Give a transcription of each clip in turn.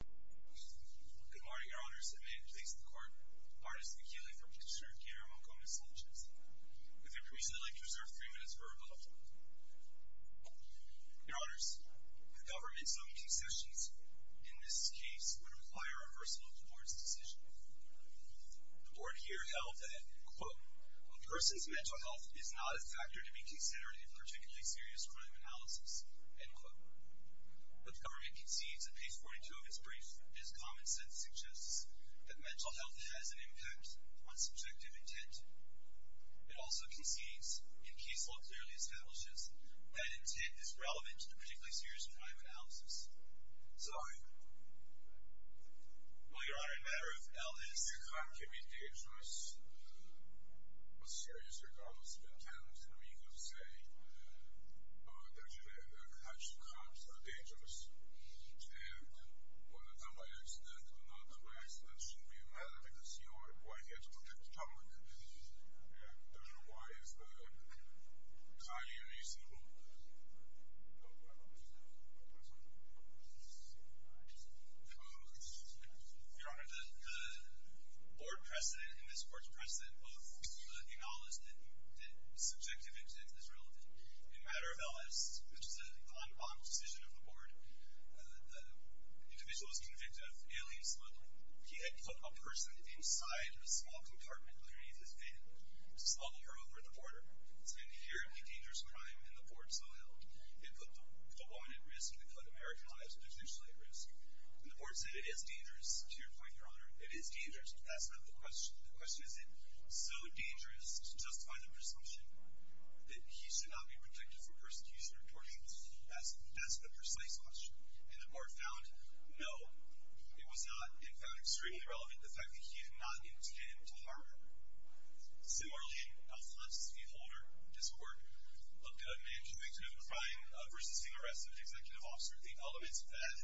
Good morning, your honors. It may please the court, Artis Michele v. Fitzgerald Guillermo Gomez-Sanchez, with your permission, I'd like to reserve three minutes for rebuttal. Your honors, the government's own concessions in this case would require a reversal of the board's decision. The board here held that, quote, a person's mental health is not a factor to be considered in a particularly serious crime analysis, end quote. But the government concedes that, page 42 of its brief, this common sense suggests that mental health has an impact on subjective intent. It also concedes, in case law clearly establishes, that intent is relevant to a particularly serious crime analysis. Sorry. Well, your honor, the matter of L is... Your crime can be dangerous, serious, regardless of intent, and we could say that perhaps the cops are dangerous, and whether or not by accident, that shouldn't be a matter, because you're right here to protect the public. And therefore, why is that highly unreasonable? No, I don't think so. Your honor, the board precedent in this court's precedent book acknowledges that subjective intent is relevant. In the matter of L.S., which is a non-bond decision of the board, the individual was convicted of alien smuggling. He had put a person inside a small compartment underneath his bed to smuggle her over the border. It's an inherently dangerous crime, and the board so held. It put the woman at risk. It put American lives potentially at risk. And the board said, it is dangerous, to your point, your honor. It is dangerous. That's not the question. The question is, is it so dangerous to justify the presumption that he should not be protected for persecution or torture? That's the precise question. And the board found, no, it was not, and found extremely relevant the fact that he did not intend to harm her. Similarly, in Alphonse v. Holder, this court looked at a man convicted of a crime of resisting arrest of an executive officer. The elements of that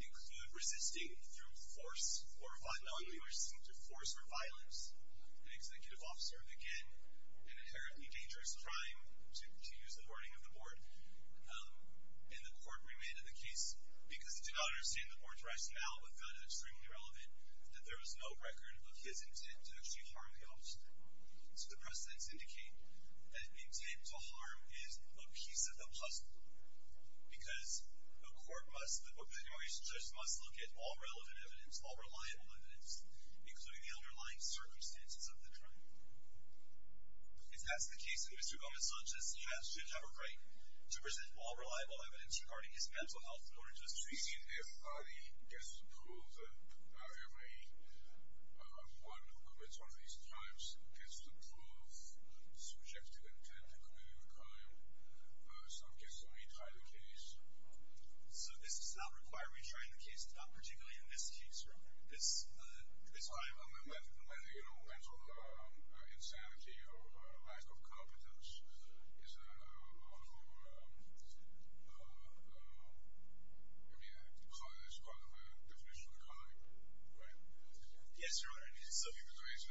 include resisting through force or, finally, resisting through force or violence. An executive officer, again, an inherently dangerous crime, to use the wording of the board. And the court remanded the case because it did not understand the board's rationale, which found it extremely relevant, that there was no record of his intent to actually harm the officer. So the precedents indicate that intent to harm is a piece of the puzzle because the court must, the immigration judge must look at all relevant evidence, all reliable evidence, including the underlying circumstances of the crime. If that's the case, then Mr. Gomez-Sanchez, you have to have a right to present all reliable evidence regarding his mental health in order to assess the case. So you mean if Ali gets to prove that every one who commits one of these crimes gets to prove subjective intent to commit a crime, some gets to only try the case? So this does not require retrying the case. It's not particularly in this case, right? This crime? The mental insanity or lack of competence is part of the definition of the crime, right? Yes, Your Honor. If it's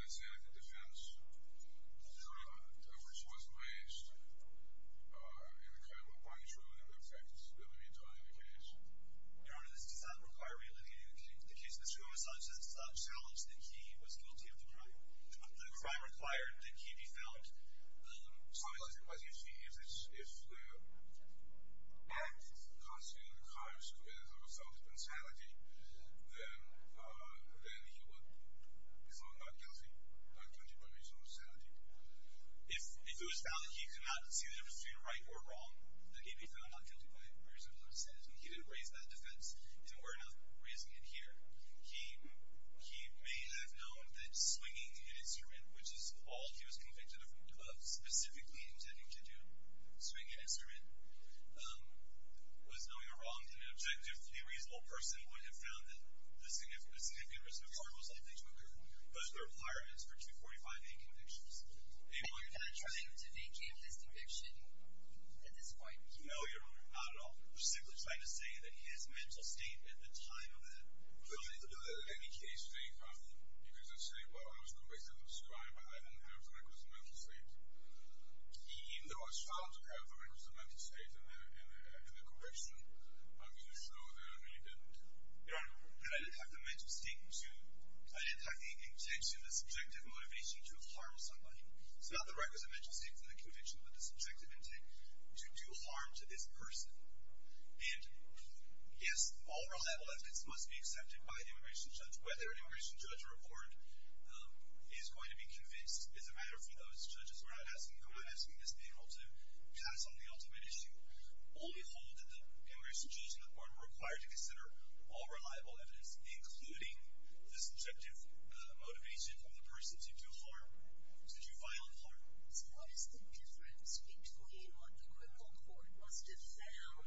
an insanity defense, which was placed in the crime of the body, Your Honor, this does not require reallocating the case. The case of Mr. Gomez-Sanchez does not challenge that he was guilty of the crime. The crime required that he be found not guilty by reason of insanity. If it was found that he could not see the difference between right or wrong, that he be found not guilty by reason of insanity, he didn't raise that defense, and we're not raising it here. He may have known that swinging an instrument, which is all he was convicted of specifically intending to do, swing an instrument, was knowing a wrong. An objectively reasonable person would have found that a significant risk of harm was likely to occur, but the requirement is for 245-A convictions. And you're not trying to vacate his conviction at this point, are you? No, Your Honor, not at all. We're simply trying to say that his mental state at the time of the crime Well, I didn't do that. In any case, they found him. Because they say, well, I was convicted of this crime, but I didn't have the requisite mental state. Even though it was found to have the requisite mental state in the conviction, I'm going to show that I really didn't. Your Honor, but I didn't have the mental state to I didn't have the intention, the subjective motivation to harm somebody. It's not the requisite mental state for the conviction, but the subjective intent to do harm to this person. And, yes, all reliable evidence must be accepted by an immigration judge. Whether an immigration judge or a court is going to be convinced is a matter for those judges. We're not asking this panel to pass on the ultimate issue. Only hold that the immigration judge and the court are required to consider all reliable evidence, including the subjective motivation of the person to do harm, to do violent harm. So what is the difference between what the criminal court must have found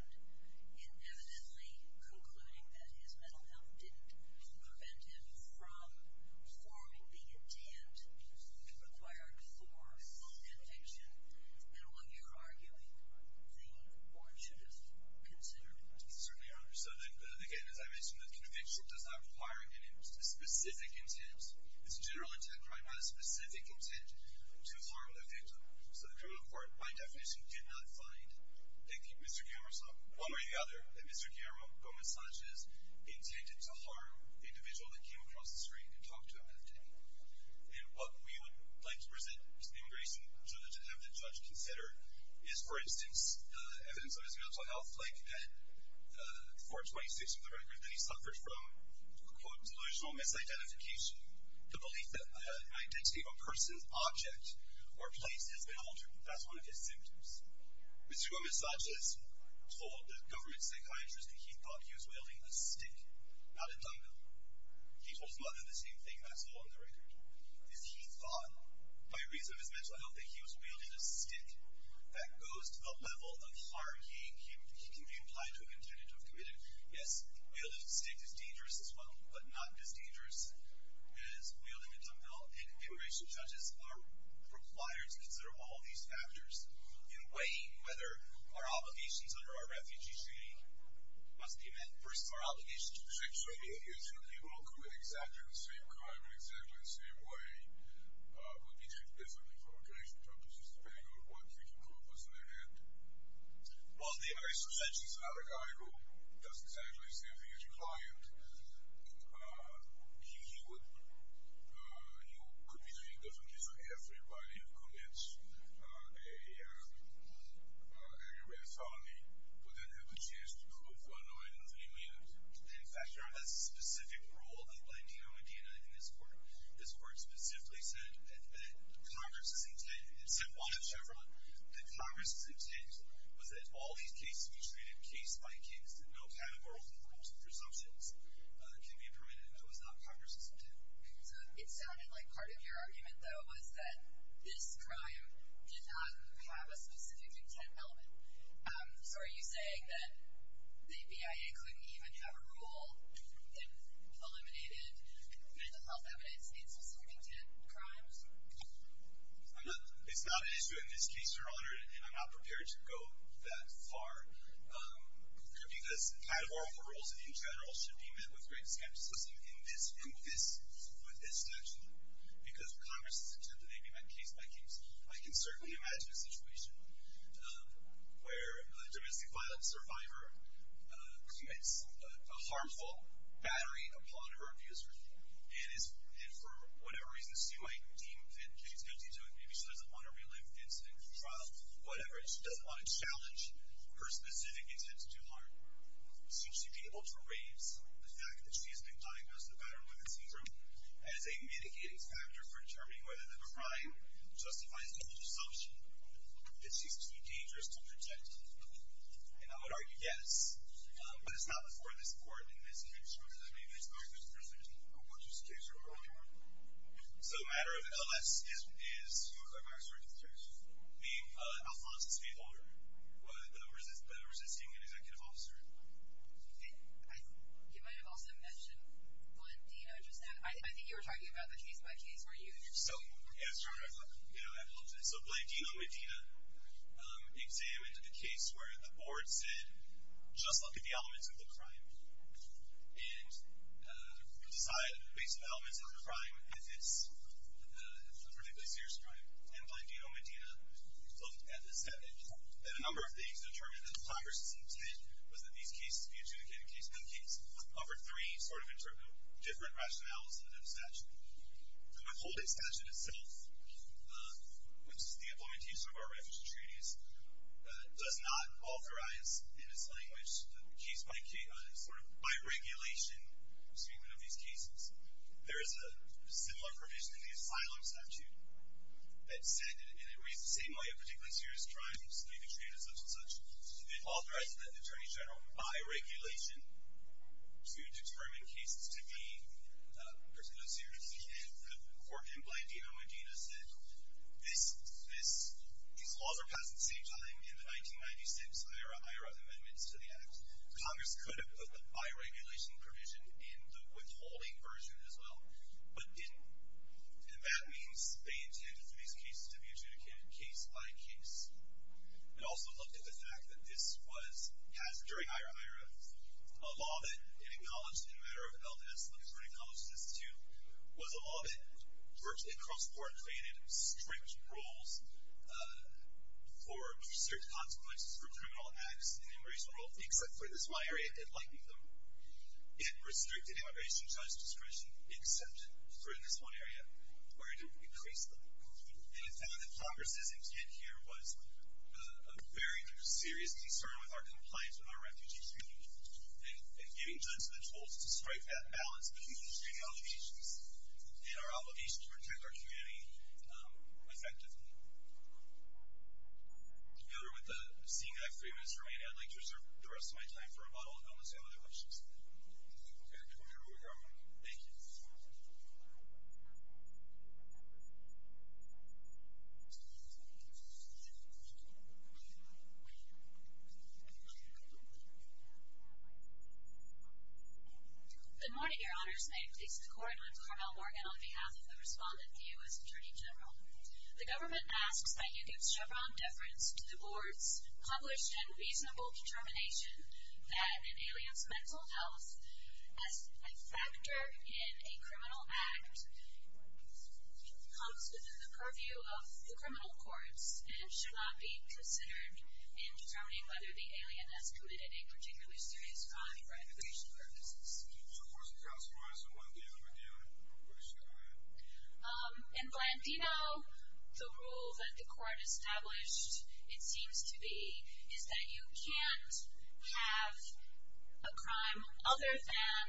in evidently concluding that his mental health didn't prevent him from performing the intent required for conviction, and what you're arguing the court should have considered? Certainly, Your Honor. So, again, as I mentioned, the conviction does not require any specific intent. It's a general intent crime, not a specific intent to harm the victim. So the criminal court, by definition, did not find, one way or the other, that Mr. Guillermo Gomez-Sanchez intended to harm the individual that came across the street and talked to him that day. And what we would like to present to the immigration judge and have the judge consider is, for instance, the evidence of his mental health, like at 426 of the record, that he suffered from, quote, delusional misidentification, the belief that the identity of a person, object, or place has been altered. That's one of his symptoms. Mr. Gomez-Sanchez told the government psychiatrist that he thought he was wielding a stick, not a dumbbell. He told his mother the same thing, and that's all in the record, is he thought, by reason of his mental health, that he was wielding a stick that goes to the level of harm he can be implied to have intended to have committed. Yes, wielding a stick is dangerous as well, but not as dangerous as wielding a dumbbell. And immigration judges are required to consider all these factors in weighing whether our obligations under our refugee treaty must be met versus our obligations to the state. So the idea is that they will commit exactly the same crime in exactly the same way, but be taken differently for obligation purposes, depending on what they can come up with in their head. Well, the immigration judge is not a guy who does exactly the same thing as your client. He would, you know, could be treated differently if everybody who commits an aggravated felony would then have the chance to prove unknown in three minutes. In fact, there is a specific rule outlined here in Indiana in this court. This court specifically said that Congress's intent, it said one of Chevron, that Congress's intent was that all these cases be treated case by case, that no categorical forms of presumptions can be permitted. That was not Congress's intent. So it sounded like part of your argument, though, was that this crime did not have a specific intent element. So are you saying that the BIA couldn't even have a rule that eliminated mental health evidence in specific intent crimes? It's not an issue in this case, Your Honor, and I'm not prepared to go that far, because categorical rules in general should be met with great skepticism in this statute. Because Congress's intent that they be met case by case, I can certainly imagine a situation where a domestic violence survivor commits a harmful battery upon her abuser and for whatever reason, she might deem that she's guilty to it, maybe she doesn't want to relive the incident at trial, whatever, and she doesn't want to challenge her specific intent to do harm. Should she be able to raise the fact that she has been diagnosed with battered women's syndrome as a mitigating factor for determining whether the crime justifies the presumption that she's too dangerous to protect? And I would argue yes. But it's not before this Court in this case, Your Honor, that I made this argument, Your Honor. What's this case, Your Honor? So the matter of L.S. is... Who is L.S. in this case? The Alphalenza Stateholder, the resisting executive officer. You might have also mentioned one, do you know, just now. I think you were talking about the case-by-case review. So, it's true. So Blandino-Medina examined the case where the board said, just look at the elements of the crime and decide based on the elements of the crime, if it's a particularly serious crime. And Blandino-Medina looked at a number of things and determined that Congress's intent was that these cases be adjudicated over three sort of different rationales than the statute. The withholding statute itself, which is the implementation of our refugee treaties, does not authorize, in its language, a case by regulation, speaking of these cases. There is a similar provision in the asylum statute that said, and it reads the same way, a particularly serious crime, speaking of treaties, such and such, it authorizes the Attorney General, by regulation, to determine cases to be particularly serious. And the court in Blandino-Medina said, these laws were passed at the same time in the 1996 IHRA amendments to the Act. Congress could have put the by regulation provision in the withholding version as well, but didn't. And that means they intended for these cases to be adjudicated case by case. It also looked at the fact that this was passed during IHRA. A law that it acknowledged in the matter of LDS, which the court acknowledged this too, was a law that virtually cross-court granted strict rules for certain consequences for criminal acts in the immigration world, except for this one area, it likened them. It restricted immigration judge discretion, except for this one area, where it increased them. And it found that Congress's intent here was a very serious concern with our compliance with our refugee treaty, and giving judges the tools to strike that balance between the treaty obligations and our obligation to protect our community effectively. Together with seeing that I have three minutes remaining, I'd like to reserve the rest of my time for a bottle of milk, unless you have other questions. Okay, we're going to move on. Thank you. Thank you. Good morning, your honors. May it please the court, I'm Carmel Morgan, on behalf of the respondent, the U.S. Attorney General. The government asks that you give Chevron deference to the board's published and reasonable determination that an alien's mental health as a factor in a criminal act comes within the purview of the criminal courts and should not be considered in determining whether the alien has committed a particularly serious crime for immigration purposes. In Glendino, the rule that the court established, it seems to be, is that you can't have a crime other than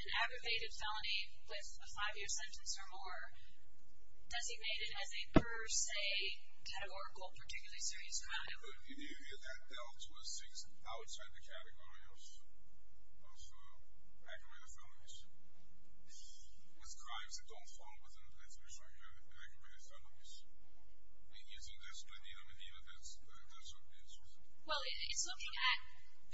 an aggravated felony with a five-year sentence or more designated as a per se categorical particularly serious crime. You need to get that down to a six outside the category of aggravated felonies. It's crimes that don't fall within the category of aggravated felonies. Using this Glendino-Medina, that's what it is. Well, it's looking at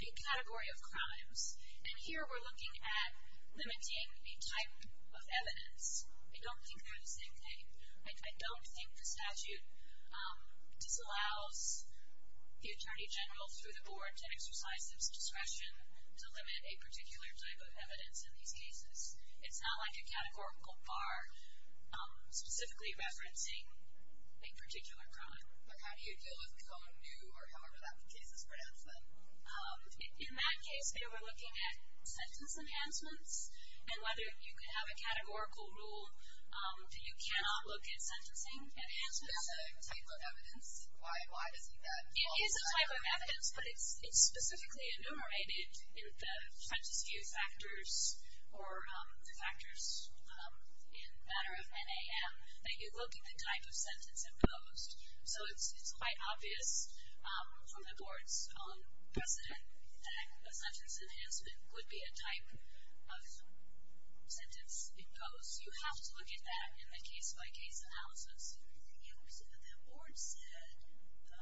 a category of crimes, and here we're looking at limiting a type of evidence. I don't think they're the same thing. I don't think the statute disallows the attorney general through the board to exercise his discretion to limit a particular type of evidence in these cases. It's not like a categorical bar specifically referencing a particular crime. But how do you deal with Cone, New, or however that case is pronounced then? In that case, we're looking at sentence enhancements and whether you can have a categorical rule that you cannot look at sentencing enhancements. Is that a type of evidence? Why is that? It is a type of evidence, but it's specifically enumerated in the sentence view factors or the factors in matter of NAM that you look at the type of sentence imposed. So it's quite obvious from the board's own precedent that a sentence enhancement would be a type of sentence imposed. You have to look at that in the case-by-case analysis. The board said in the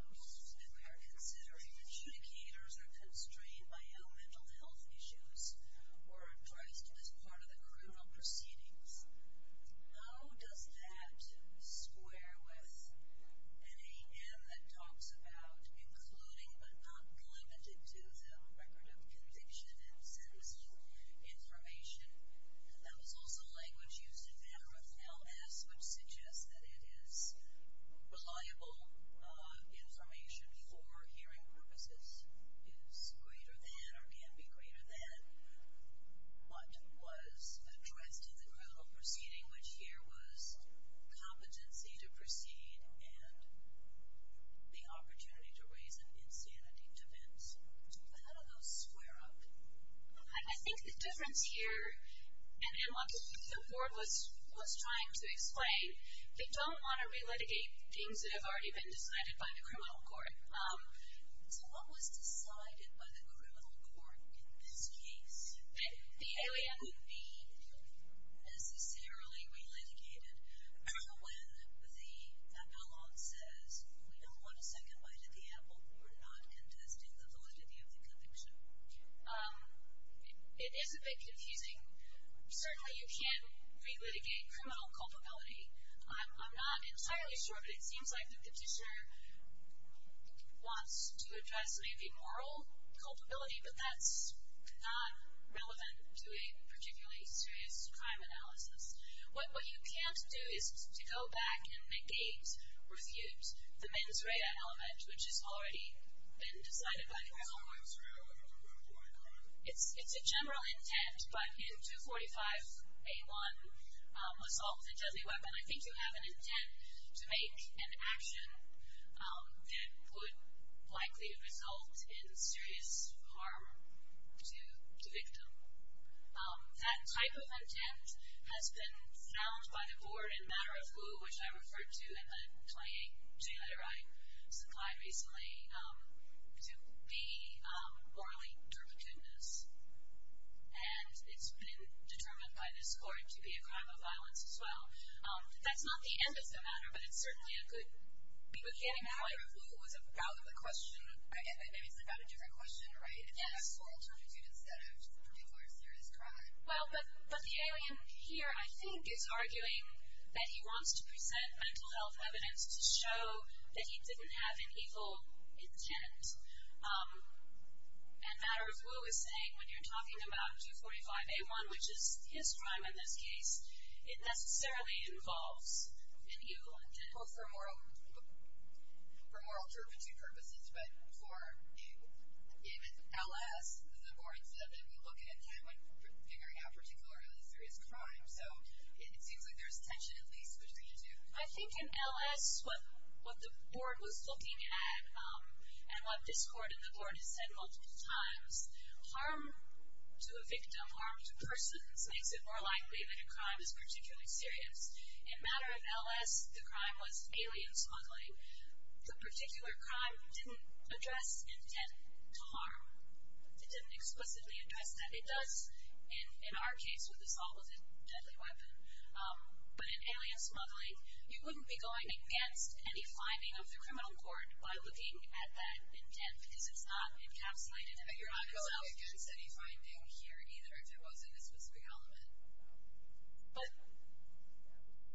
rules that we are considering that adjudicators are constrained by how mental health issues were addressed as part of the criminal proceedings. How does that square with NAM that talks about including but not limited to the record of conviction and sentencing information? That was also language used in matter of LS, which suggests that it is reliable information for hearing purposes. It is greater than or can be greater than what was addressed in the criminal proceeding, which here was competency to proceed and the opportunity to raise an insanity defense. How do those square up? I think the difference here, and what the board was trying to explain, they don't want to relitigate things that have already been decided by the criminal court. So what was decided by the criminal court in this case? The alien would be necessarily relitigated when the appellant says, we don't want a second bite at the apple. We're not contesting the validity of the conviction. It is a bit confusing. Certainly you can relitigate criminal culpability. I'm not entirely sure, but it seems like the petitioner wants to address maybe moral culpability, but that's not relevant to a particularly serious crime analysis. What you can't do is to go back and negate or refute the mens rea element, which has already been decided by the criminal court. It's a general intent, but in 245A1, assault with a deadly weapon, I think you have an intent to make an action that would likely result in serious harm to the victim. That type of intent has been found by the court in matter of lieu, which I referred to in the 28-J letter I supplied recently, to be morally dubious. And it's been determined by this court to be a crime of violence as well. That's not the end of the matter, but it's certainly a good beginning point. Matter of lieu was about the question. Maybe it's about a different question, right? It's about moral turpitude instead of a particular serious crime. Well, but the alien here, I think, is arguing that he wants to present mental health evidence to show that he didn't have an evil intent. And matter of lieu is saying when you're talking about 245A1, which is his crime in this case, it necessarily involves an evil intent. Well, for moral turpitude purposes. But in LS, the board said that we look at a time when figuring out a particularly serious crime. So it seems like there's tension at least between the two. I think in LS, what the board was looking at and what this court and the board has said multiple times, harm to a victim, harm to persons, makes it more likely that a crime is particularly serious. In matter of LS, the crime was alien smuggling. The particular crime didn't address intent to harm. It didn't explicitly address that. It does in our case with assault with a deadly weapon. But in alien smuggling, you wouldn't be going against any finding of the criminal court by looking at that intent because it's not encapsulated in the crime itself. You wouldn't be going against any finding here, either, if it wasn't a specific element.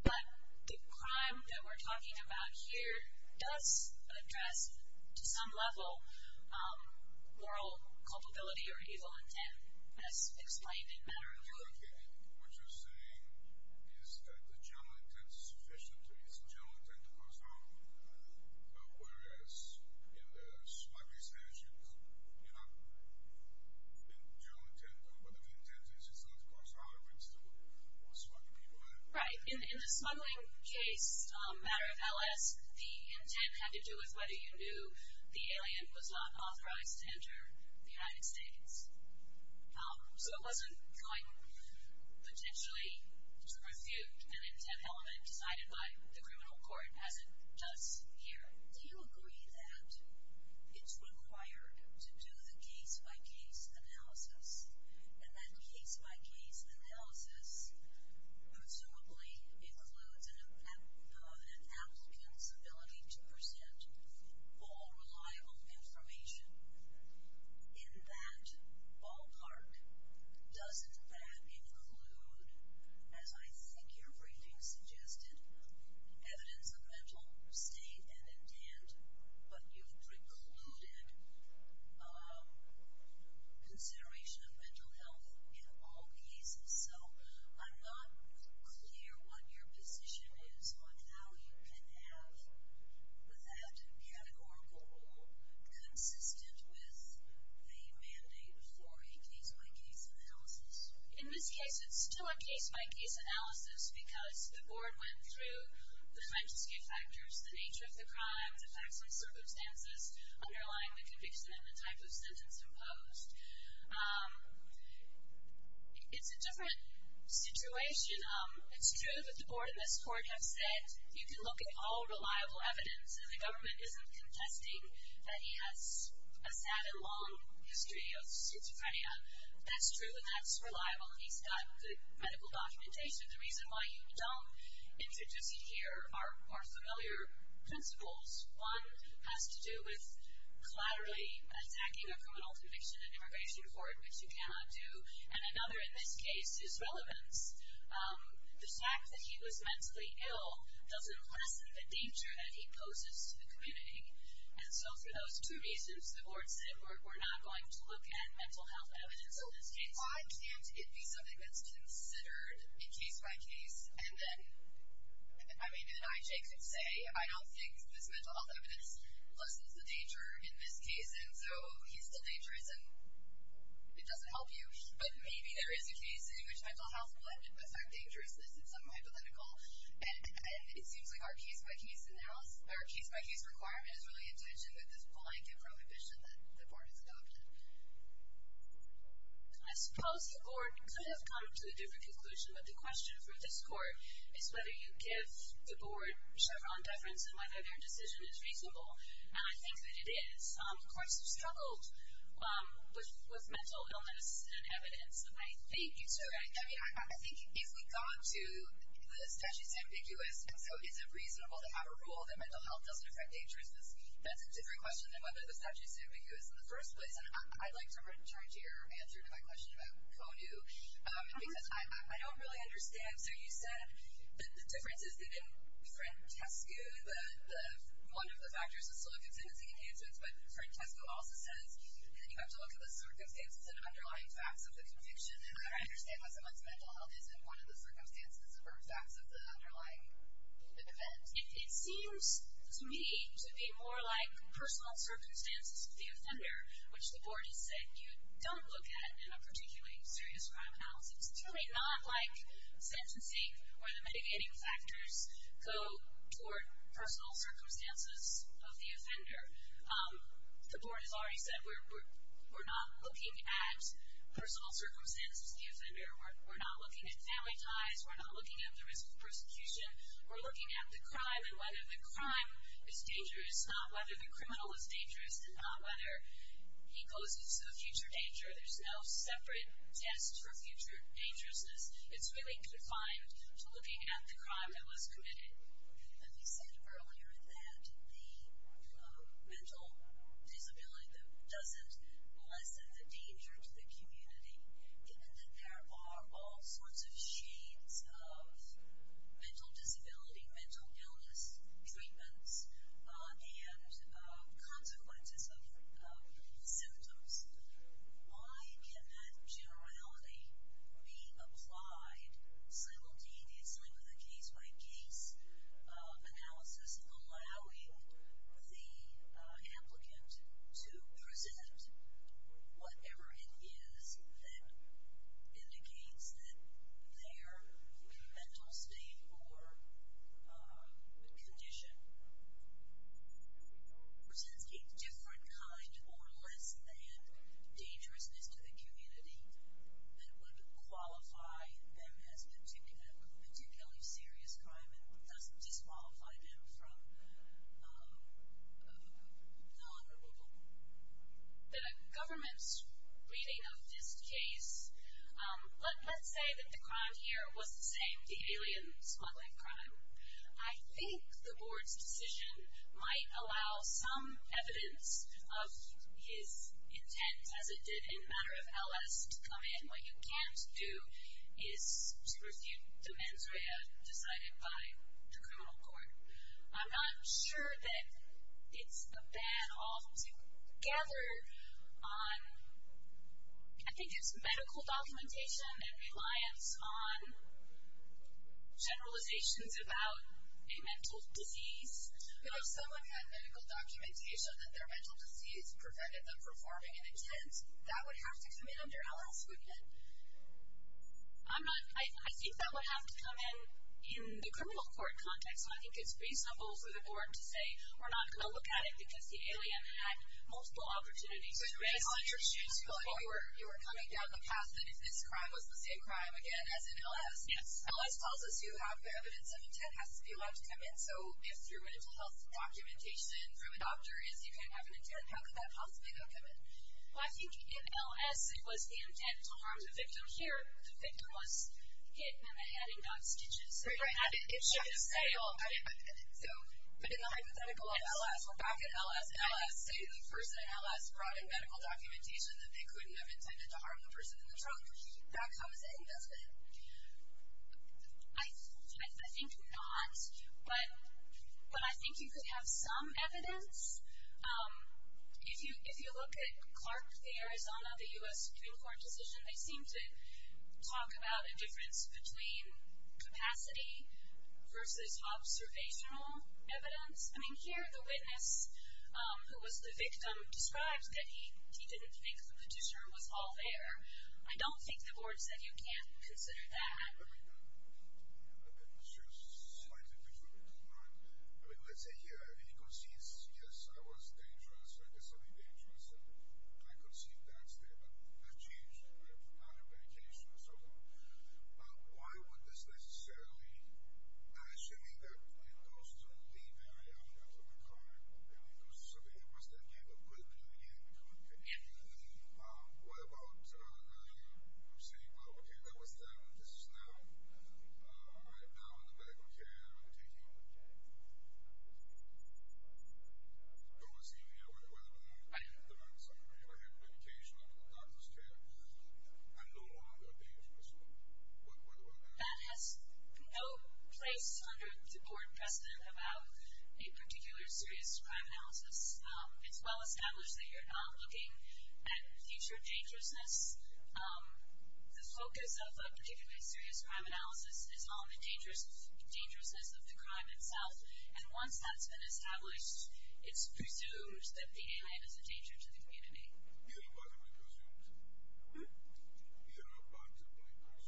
But the crime that we're talking about here does address, to some level, moral culpability or evil intent, as explained in matter of lieu. What you're saying is that the general intent is sufficient to ease the general intent to cause harm. Whereas, in the smuggling statute, the general intent, whether the intent is to cause harm, it's to smuggle people in. Right. In the smuggling case, matter of LS, the intent had to do with whether you knew the alien was not authorized to enter the United States. So it wasn't going potentially to refute an intent element decided by the criminal court, as it does here. Do you agree that it's required to do the case-by-case analysis, and that case-by-case analysis presumably includes an applicant's ability to present all reliable information in that ballpark? Doesn't that include, as I think your briefing suggested, evidence of mental state and intent? But you've precluded consideration of mental health in all cases. So I'm not clear what your position is on how you can have that case-by-case analysis. In this case, it's still a case-by-case analysis because the board went through the scientific factors, the nature of the crimes, the facts and circumstances underlying the conviction, and the type of sentence imposed. It's a different situation. It's true that the board and this court have said you can look at all reliable evidence, and the government isn't contesting that he has a sad and long history of schizophrenia. That's true, and that's reliable, and he's got the medical documentation. The reason why you don't introduce it here are familiar principles. One has to do with collaterally attacking a criminal conviction at immigration court, which you cannot do. And another, in this case, is relevance. The fact that he was mentally ill doesn't lessen the danger that he poses to the community. And so for those two reasons, the board said, we're not going to look at mental health evidence in this case. Why can't it be something that's considered a case-by-case? And then, I mean, and I, Jake, could say I don't think this mental health evidence lessens the danger in this case, and so he's still dangerous, and it doesn't help you. But maybe there is a case in which mental health might affect dangerousness in some hypothetical. And it seems like our case-by-case analysis, our case-by-case requirement is really intentioned with this blanket prohibition that the board has adopted. I suppose the board could have come to a different conclusion, but the question for this court is whether you give the board Chevron deference and whether their decision is reasonable. And I think that it is. Courts have struggled with mental illness and evidence, and I think it's all right. I mean, I think if we got to the statute's ambiguous, so is it reasonable to have a rule that mental health doesn't affect dangerousness? That's a different question than whether the statute's ambiguous in the first place. And I'd like to return to your answer to my question about CONU, because I don't really understand. So you said the difference is that in FRENTESCU, one of the factors is still a contingency in cancer, but FRENTESCU also says you have to look at the circumstances and underlying facts of the conviction. And I don't understand why someone's mental health isn't one of the circumstances or facts of the underlying event. It seems to me to be more like personal circumstances of the offender, which the board has said you don't look at in a particularly serious crime analysis. It's really not like sentencing where the mitigating factors go toward personal circumstances of the offender. The board has already said we're not looking at personal circumstances of the offender. We're not looking at family ties. We're not looking at the risk of persecution. We're looking at the crime and whether the crime is dangerous, not whether the criminal is dangerous and not whether he poses a future danger. There's no separate test for future dangerousness. It's really confined to looking at the crime that was committed. And you said earlier that the mental disability doesn't lessen the danger to the community, given that there are all sorts of shades of mental disability, mental illness, treatments, and consequences of symptoms. Why can that generality be applied simultaneously with a case-by-case analysis, allowing the applicant to present whatever it is that indicates that their mental state or condition presents a different kind or less than dangerousness to the community that would qualify them as particularly serious crime and doesn't disqualify them from non-removal? The government's reading of this case, let's say that the crime here was the same, the alien smuggling crime. I think the board's decision might allow some evidence of his intent, as it did in the matter of LS, to come in. What you can't do is pursue the mens rea, decided by the criminal court. I'm not sure that it's a ban altogether on, I think it's medical documentation and reliance on generalizations about a mental disease. But if someone had medical documentation that their mental disease prevented them from performing an intent, that would have to come in under LS, wouldn't it? I think that would have to come in in the criminal court context. I think it's reasonable for the board to say, we're not going to look at it because the alien had multiple opportunities. You were coming down the path that if this crime was the same crime, again, as in LS. LS tells us you have evidence of intent has to be allowed to come in. So if through a mental health documentation, through a doctor is you can't have an intent, how could that possibly not come in? Well, I think in LS it was the intent to harm the victim. Here, the victim was hit in the head and got stitches. Right, right. It should have failed. But in the hypothetical of LS, we're back at LS. LS, say the person at LS brought in medical documentation that they couldn't have intended to harm the person in the trunk. That comes in, doesn't it? I think not. But I think you could have some evidence. If you look at Clark v. Arizona, the U.S. Supreme Court decision, they seem to talk about a difference between capacity versus observational evidence. I mean, here the witness, who was the victim, describes that he didn't think the petitioner was all there. I don't think the board said you can't consider that. It's just slightly different, right? I mean, let's say he concedes, yes, I was dangerous, I did something dangerous, and I concede that statement. I've changed. I've not had medication or so on. Why would this necessarily actually mean that when it goes to the area, when it comes to the car, when it comes to something that must have had a good opinion, what about I'm saying, well, okay, that was them, this is them, right now in the medical care, I'm taking those in here, whether it be the meds I'm taking, I have medication, I'm in the doctor's care, I'm no longer dangerous. What do I have? That has no place under the board precedent about a particular serious crime analysis. It's well established that you're not looking at future dangerousness. The focus of a particular serious crime analysis is on the dangerousness of the crime itself, and once that's been established, it's presumed that the alien is a danger to the community. Irrebuttably presumed.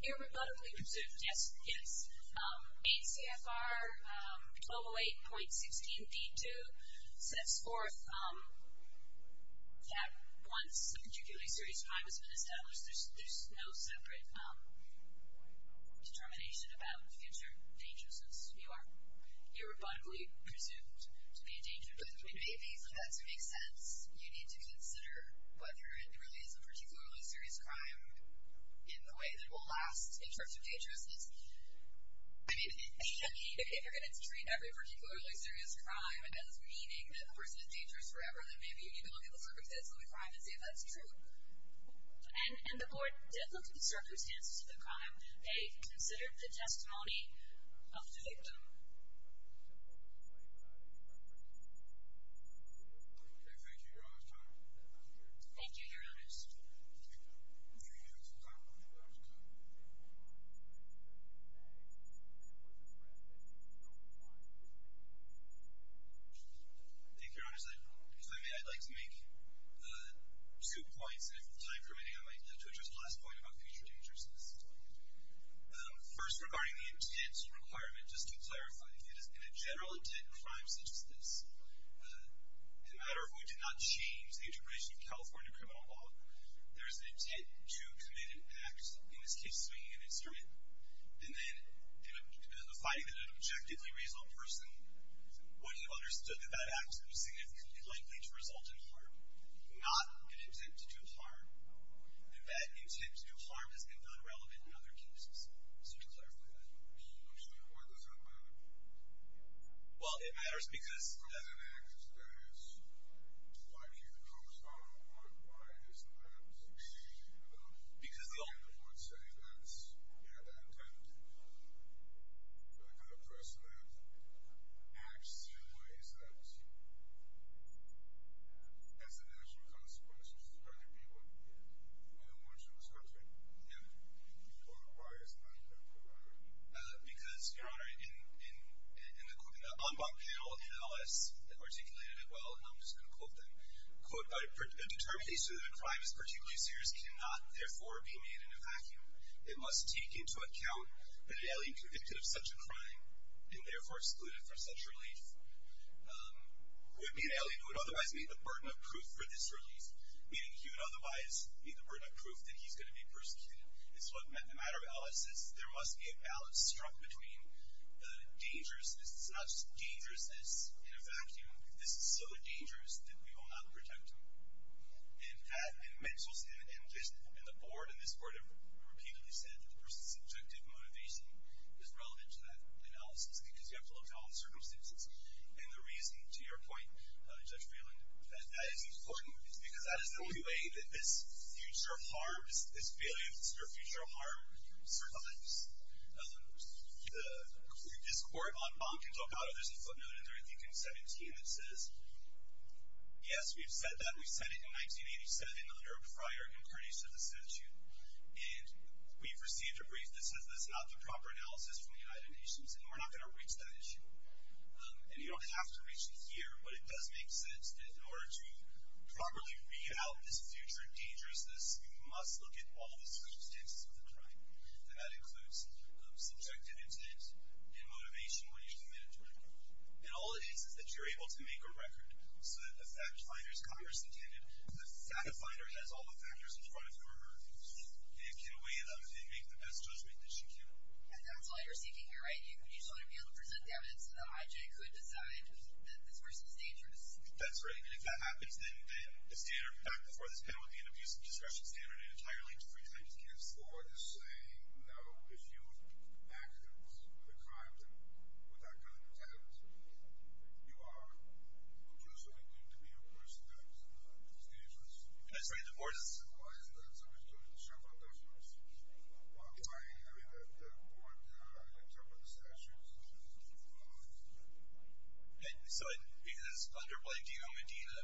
Irrebuttably presumed, yes, yes. ACFR 1208.16b2 sets forth that once a particularly serious crime has been established, there's no separate determination about future dangerousness. You are irrebuttably presumed to be a danger to the community. Maybe for that to make sense, you need to consider whether it really is a particularly serious crime in the way that it will last in terms of dangerousness. I mean, if you're going to treat every particularly serious crime as meaning that the person is dangerous forever, then maybe you need to look at the circumstances of the crime and see if that's true. And the board did look at the circumstances of the crime. They considered the testimony of the victim. Okay, thank you. Your Honor's time. Thank you, Your Honors. Thank you. Thank you, Your Honors. If I may, I'd like to make two points. And if there's time remaining, I'd like to address the last point about future dangerousness. First, regarding the intent requirement, just to clarify, in a general intent crime such as this, the matter of who did not change the integration of California criminal law, there's an intent to commit an act, in this case, swinging an instrument. And then, in a fighting that an objectively reasonable person would have understood that that act was significantly likely to result in harm, not an intent to do harm. And that intent to do harm has been found relevant in other cases. So, to clarify that. I'm sorry, what does that matter? Well, it matters because. If it's an act that is likely to cause harm, why isn't that the intent? I would say that's, yeah, the intent for the kind of person that acts in ways that has the natural consequences of trying to be one. Yeah. And why isn't that the intent? Because, Your Honor, in the en banc panel in LS that articulated it well, and I'm just going to quote them. Quote, a determination of a crime as particularly serious cannot, therefore, be made in a vacuum. It must take into account that an alien convicted of such a crime, and therefore excluded for such relief, would be an alien who would otherwise meet the burden of proof for this relief. Meaning he would otherwise meet the burden of proof that he's going to be persecuted. It's what the matter of LS is. There must be a balance struck between the dangerousness. It's not just dangerousness in a vacuum. This is so dangerous that we will not protect him. And that, and mental, and the board and this board have repeatedly said that the person's subjective motivation is relevant to that analysis because you have to look at all the circumstances. And the reason, to your point, Judge Freeland, that that is important is because that is the only way that this future harm, this failure, this future harm survives. The court on Bonken talk about it. There's a footnote in there, I think, in 17 that says, yes, we've said that. We said it in 1987 under a prior incarnation of the statute. And we've received a brief that says that's not the proper analysis from the United Nations, and we're not going to reach that issue. And you don't have to reach it here, but it does make sense that in order to properly read out this future dangerousness, you must look at all the circumstances of the crime. And that includes subjective intent and motivation when you're the manager. And all it is is that you're able to make a record so that the fact finders, Congress intended, the fact finder has all the factors in front of her and can weigh them and make the best judgment that she can. And that's all you're seeking here, right? You just want to be able to present the evidence so that I, Jay, could decide that this person is dangerous. That's right. And if that happens, then the standard back before this panel at the end of these discussions, standard and entirely free, I just can't afford to say, no, if you've acted with a crime, then with that kind of intent, you are unjustly deemed to be a person that is dangerous. I'm sorry, the board is. Why is that? Somebody's going to shove up those numbers. Why? I mean, the board interpreted the statute. So it is underplayed. Do you know Medina?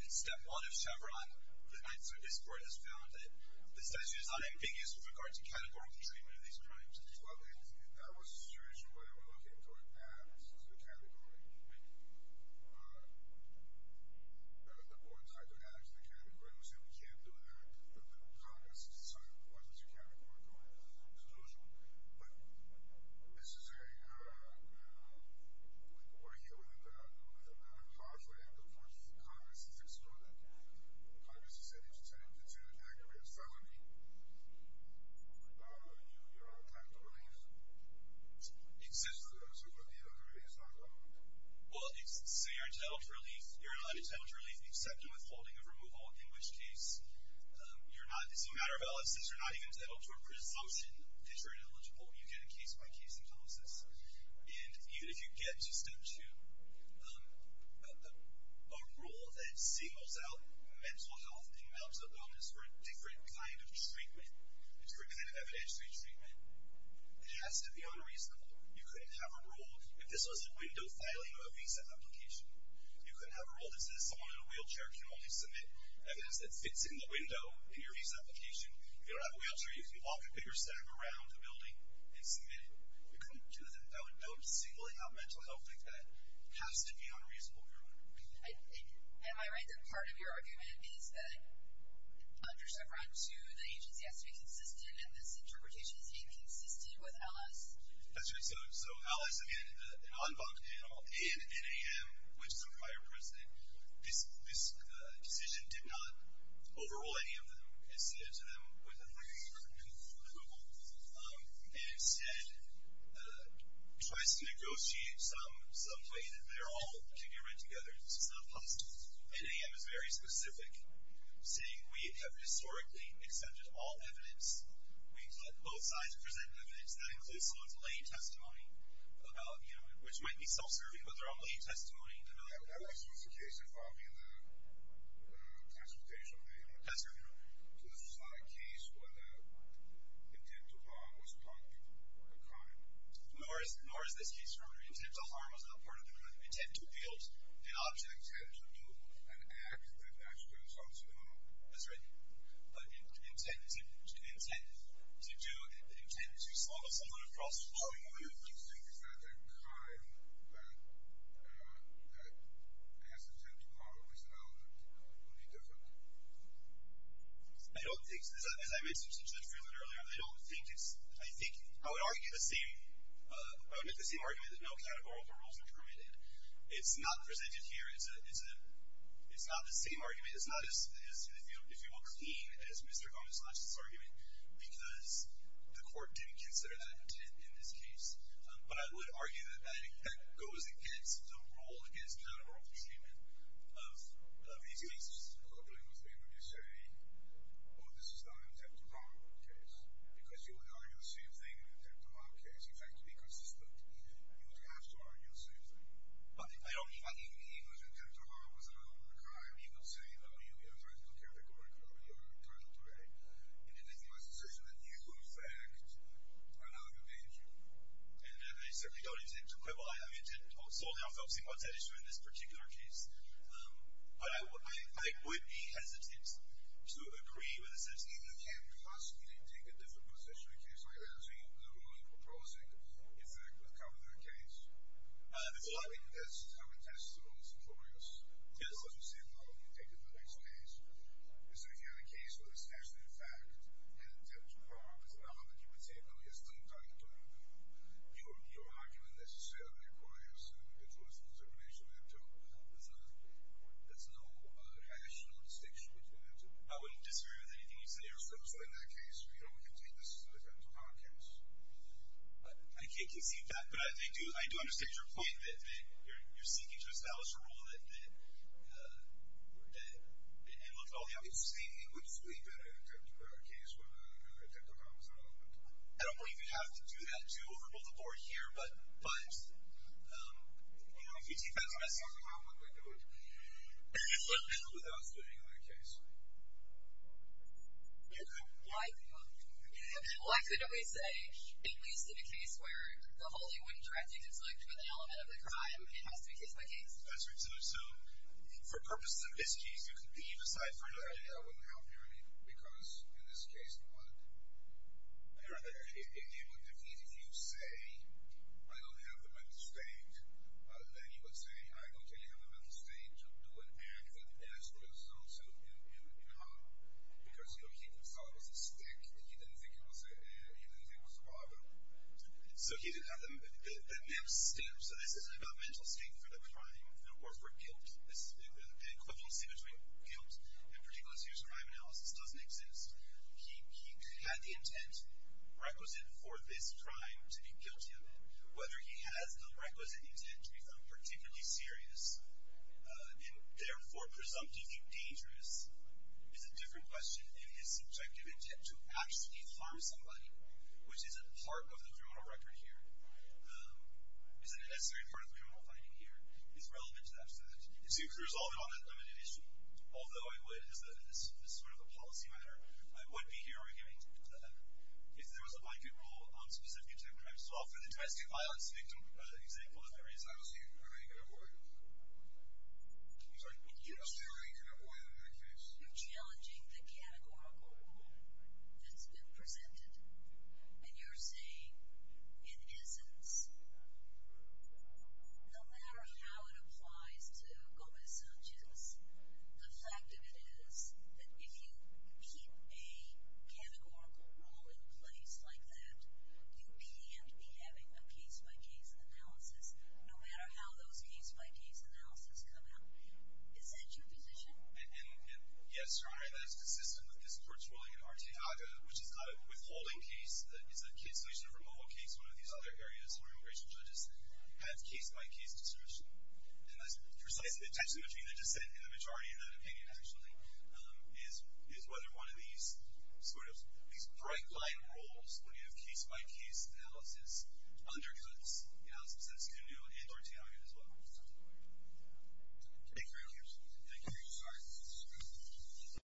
The step one is Chevron. The night service court has found that the statute is not ambiguous with regards to categorical treatment of these crimes. Well, that was the situation where we're looking to add to the category. The board tried to add to the category. We said we can't do that. But the Congress decided it wasn't a categorical conclusion. But this is a, we're here with a matter of lawfully, and of course the Congress is excluded. The Congress has said it's intended to act as a felony. You're entitled to relief? Exempted. So Medina is not eligible. Well, so you're entitled to relief. You're not entitled to relief except in withholding of removal, in which case you're not, it's a matter of elicits. You're not even entitled to a presumption that you're ineligible. You get a case-by-case analysis. And even if you get to step two, a rule that singles out mental health and mental illness for a different kind of treatment, a different kind of evidence-based treatment, it has to be unreasonable. You couldn't have a rule, if this was a window filing of a visa application, you couldn't have a rule that says someone in a wheelchair can only submit evidence that fits in the window in your visa application. If you don't have a wheelchair, you can walk a bigger step around the building and submit it. You couldn't do that. That would don't single out mental health like that. It has to be unreasonable, Your Honor. Am I right that part of your argument is that undersufferance to the agency has to be consistent, and this interpretation is being consistent with LS? That's right. So LS, again, an en banc panel, and NAM, which is a prior precedent, this decision did not overrule any of them. It said to them, was it legal? It was legal. It instead tries to negotiate some way that they're all to be read together. It's just not possible. NAM is very specific, saying we have historically accepted all evidence. We've let both sides present evidence. That includes someone's lay testimony about, you know, which might be self-serving, but their own lay testimony. That was the case involving the transportation. That's right, Your Honor. So this was not a case where the intent to harm was part of the crime. Nor is this case, Your Honor, intent to harm was not part of the crime. Intent to build an object. Intent to do an act that actually results in harm. That's right. But intent to do, intent to sluggle someone across So you think it's not that crime that has intent to harm or is not an intent to harm. Would it be different? I don't think so. As I mentioned to Judge Freeland earlier, I don't think it's, I think, I would argue the same, I would make the same argument that no categorical rules are permitted. It's not presented here. It's not the same argument. It's not as, if you will, clean as Mr. Gomez because the court didn't consider that intent in this case. But I would argue that that goes against the rule, against categorical treatment of these cases. You're coupling with me when you say, oh, this is not an intent to harm case. Because you would argue the same thing in an intent to harm case. In fact, to be consistent, you would have to argue the same thing. I don't mean that. Even if the intent to harm was not part of the crime, you would say, oh, you have a very little category for your criminal degree. And then you would make the decision that you would, in fact, allow the danger. And I certainly don't intend to quibble. I mean, I didn't solely, I don't think, want to issue in this particular case. But I would be hesitant to agree with the sense, if you can't possibly take a different position in a case like that, I think the rule you're proposing, in fact, would cover that case. But that's how we test the rules in progress. Yes. Because you said, well, you take it to the next case. Is there any other case where it's actually, in fact, an intent to harm? Because I don't think you would say, oh, yes, don't argue the crime. You would argue it necessarily requires an individual's determination that there's no rational distinction between the two. I wouldn't disagree with anything you say or say in that case. You know, we can take this as an intent to harm case. But I do understand your point that you're seeking to establish a rule that looks at all the elements. It would be better in an intent to harm case where an intent to harm is an element. I don't believe you have to do that to overrule the board here. But, you know, if you take that to the next case, how would they do it without spending on a case? Well, I couldn't really say. At least in a case where the whole thing wouldn't directly conflict with an element of the crime, it has to be case by case. That's right. So for purposes of this case, you can leave aside for another day. I wouldn't help here, because in this case, what if you say, I don't have the mental state, then you would say, I don't think you have the mental state to do an act that escalates also in harm. Because, you know, he thought it was a stick. He didn't think it was a bottle. So he didn't have the mental state. So this isn't about mental state for the crime or for guilt. The equivalency between guilt and particular serious crime analysis doesn't exist. He had the intent requisite for this crime to be guilty of it. Whether he has the requisite intent to be found particularly serious and therefore presumptively dangerous is a different question. And his subjective intent to actually harm somebody, which is a part of the criminal record here, isn't a necessary part of the criminal finding here, is relevant to that. It seems to resolve it on a limited issue. Although I would, as sort of a policy matter, I would be here arguing if there was a blanket rule on specific intent crimes. So for the domestic violence victim example, if there is, I don't see how you can avoid it. I don't see how you can avoid it in that case. You're challenging the categorical rule that's been presented. And you're saying it isn't. No matter how it applies to Gomez-Sanchez, the fact of it is that if you keep a categorical rule in place like that, you can't be having a case-by-case analysis, no matter how those case-by-case analysis come out. Is that your position? Yes, Your Honor. That is consistent with this court's ruling in Arteaga, which is not a withholding case. It's a solution for mobile case, one of these other areas where immigration judges have case-by-case distribution. And that's precisely the tension between the dissent and the majority in that opinion, actually, is whether one of these sort of bright-line rules, when you have case-by-case analysis, undercuts, in a sense, the new entertainment as well. Thank you very much. Thank you.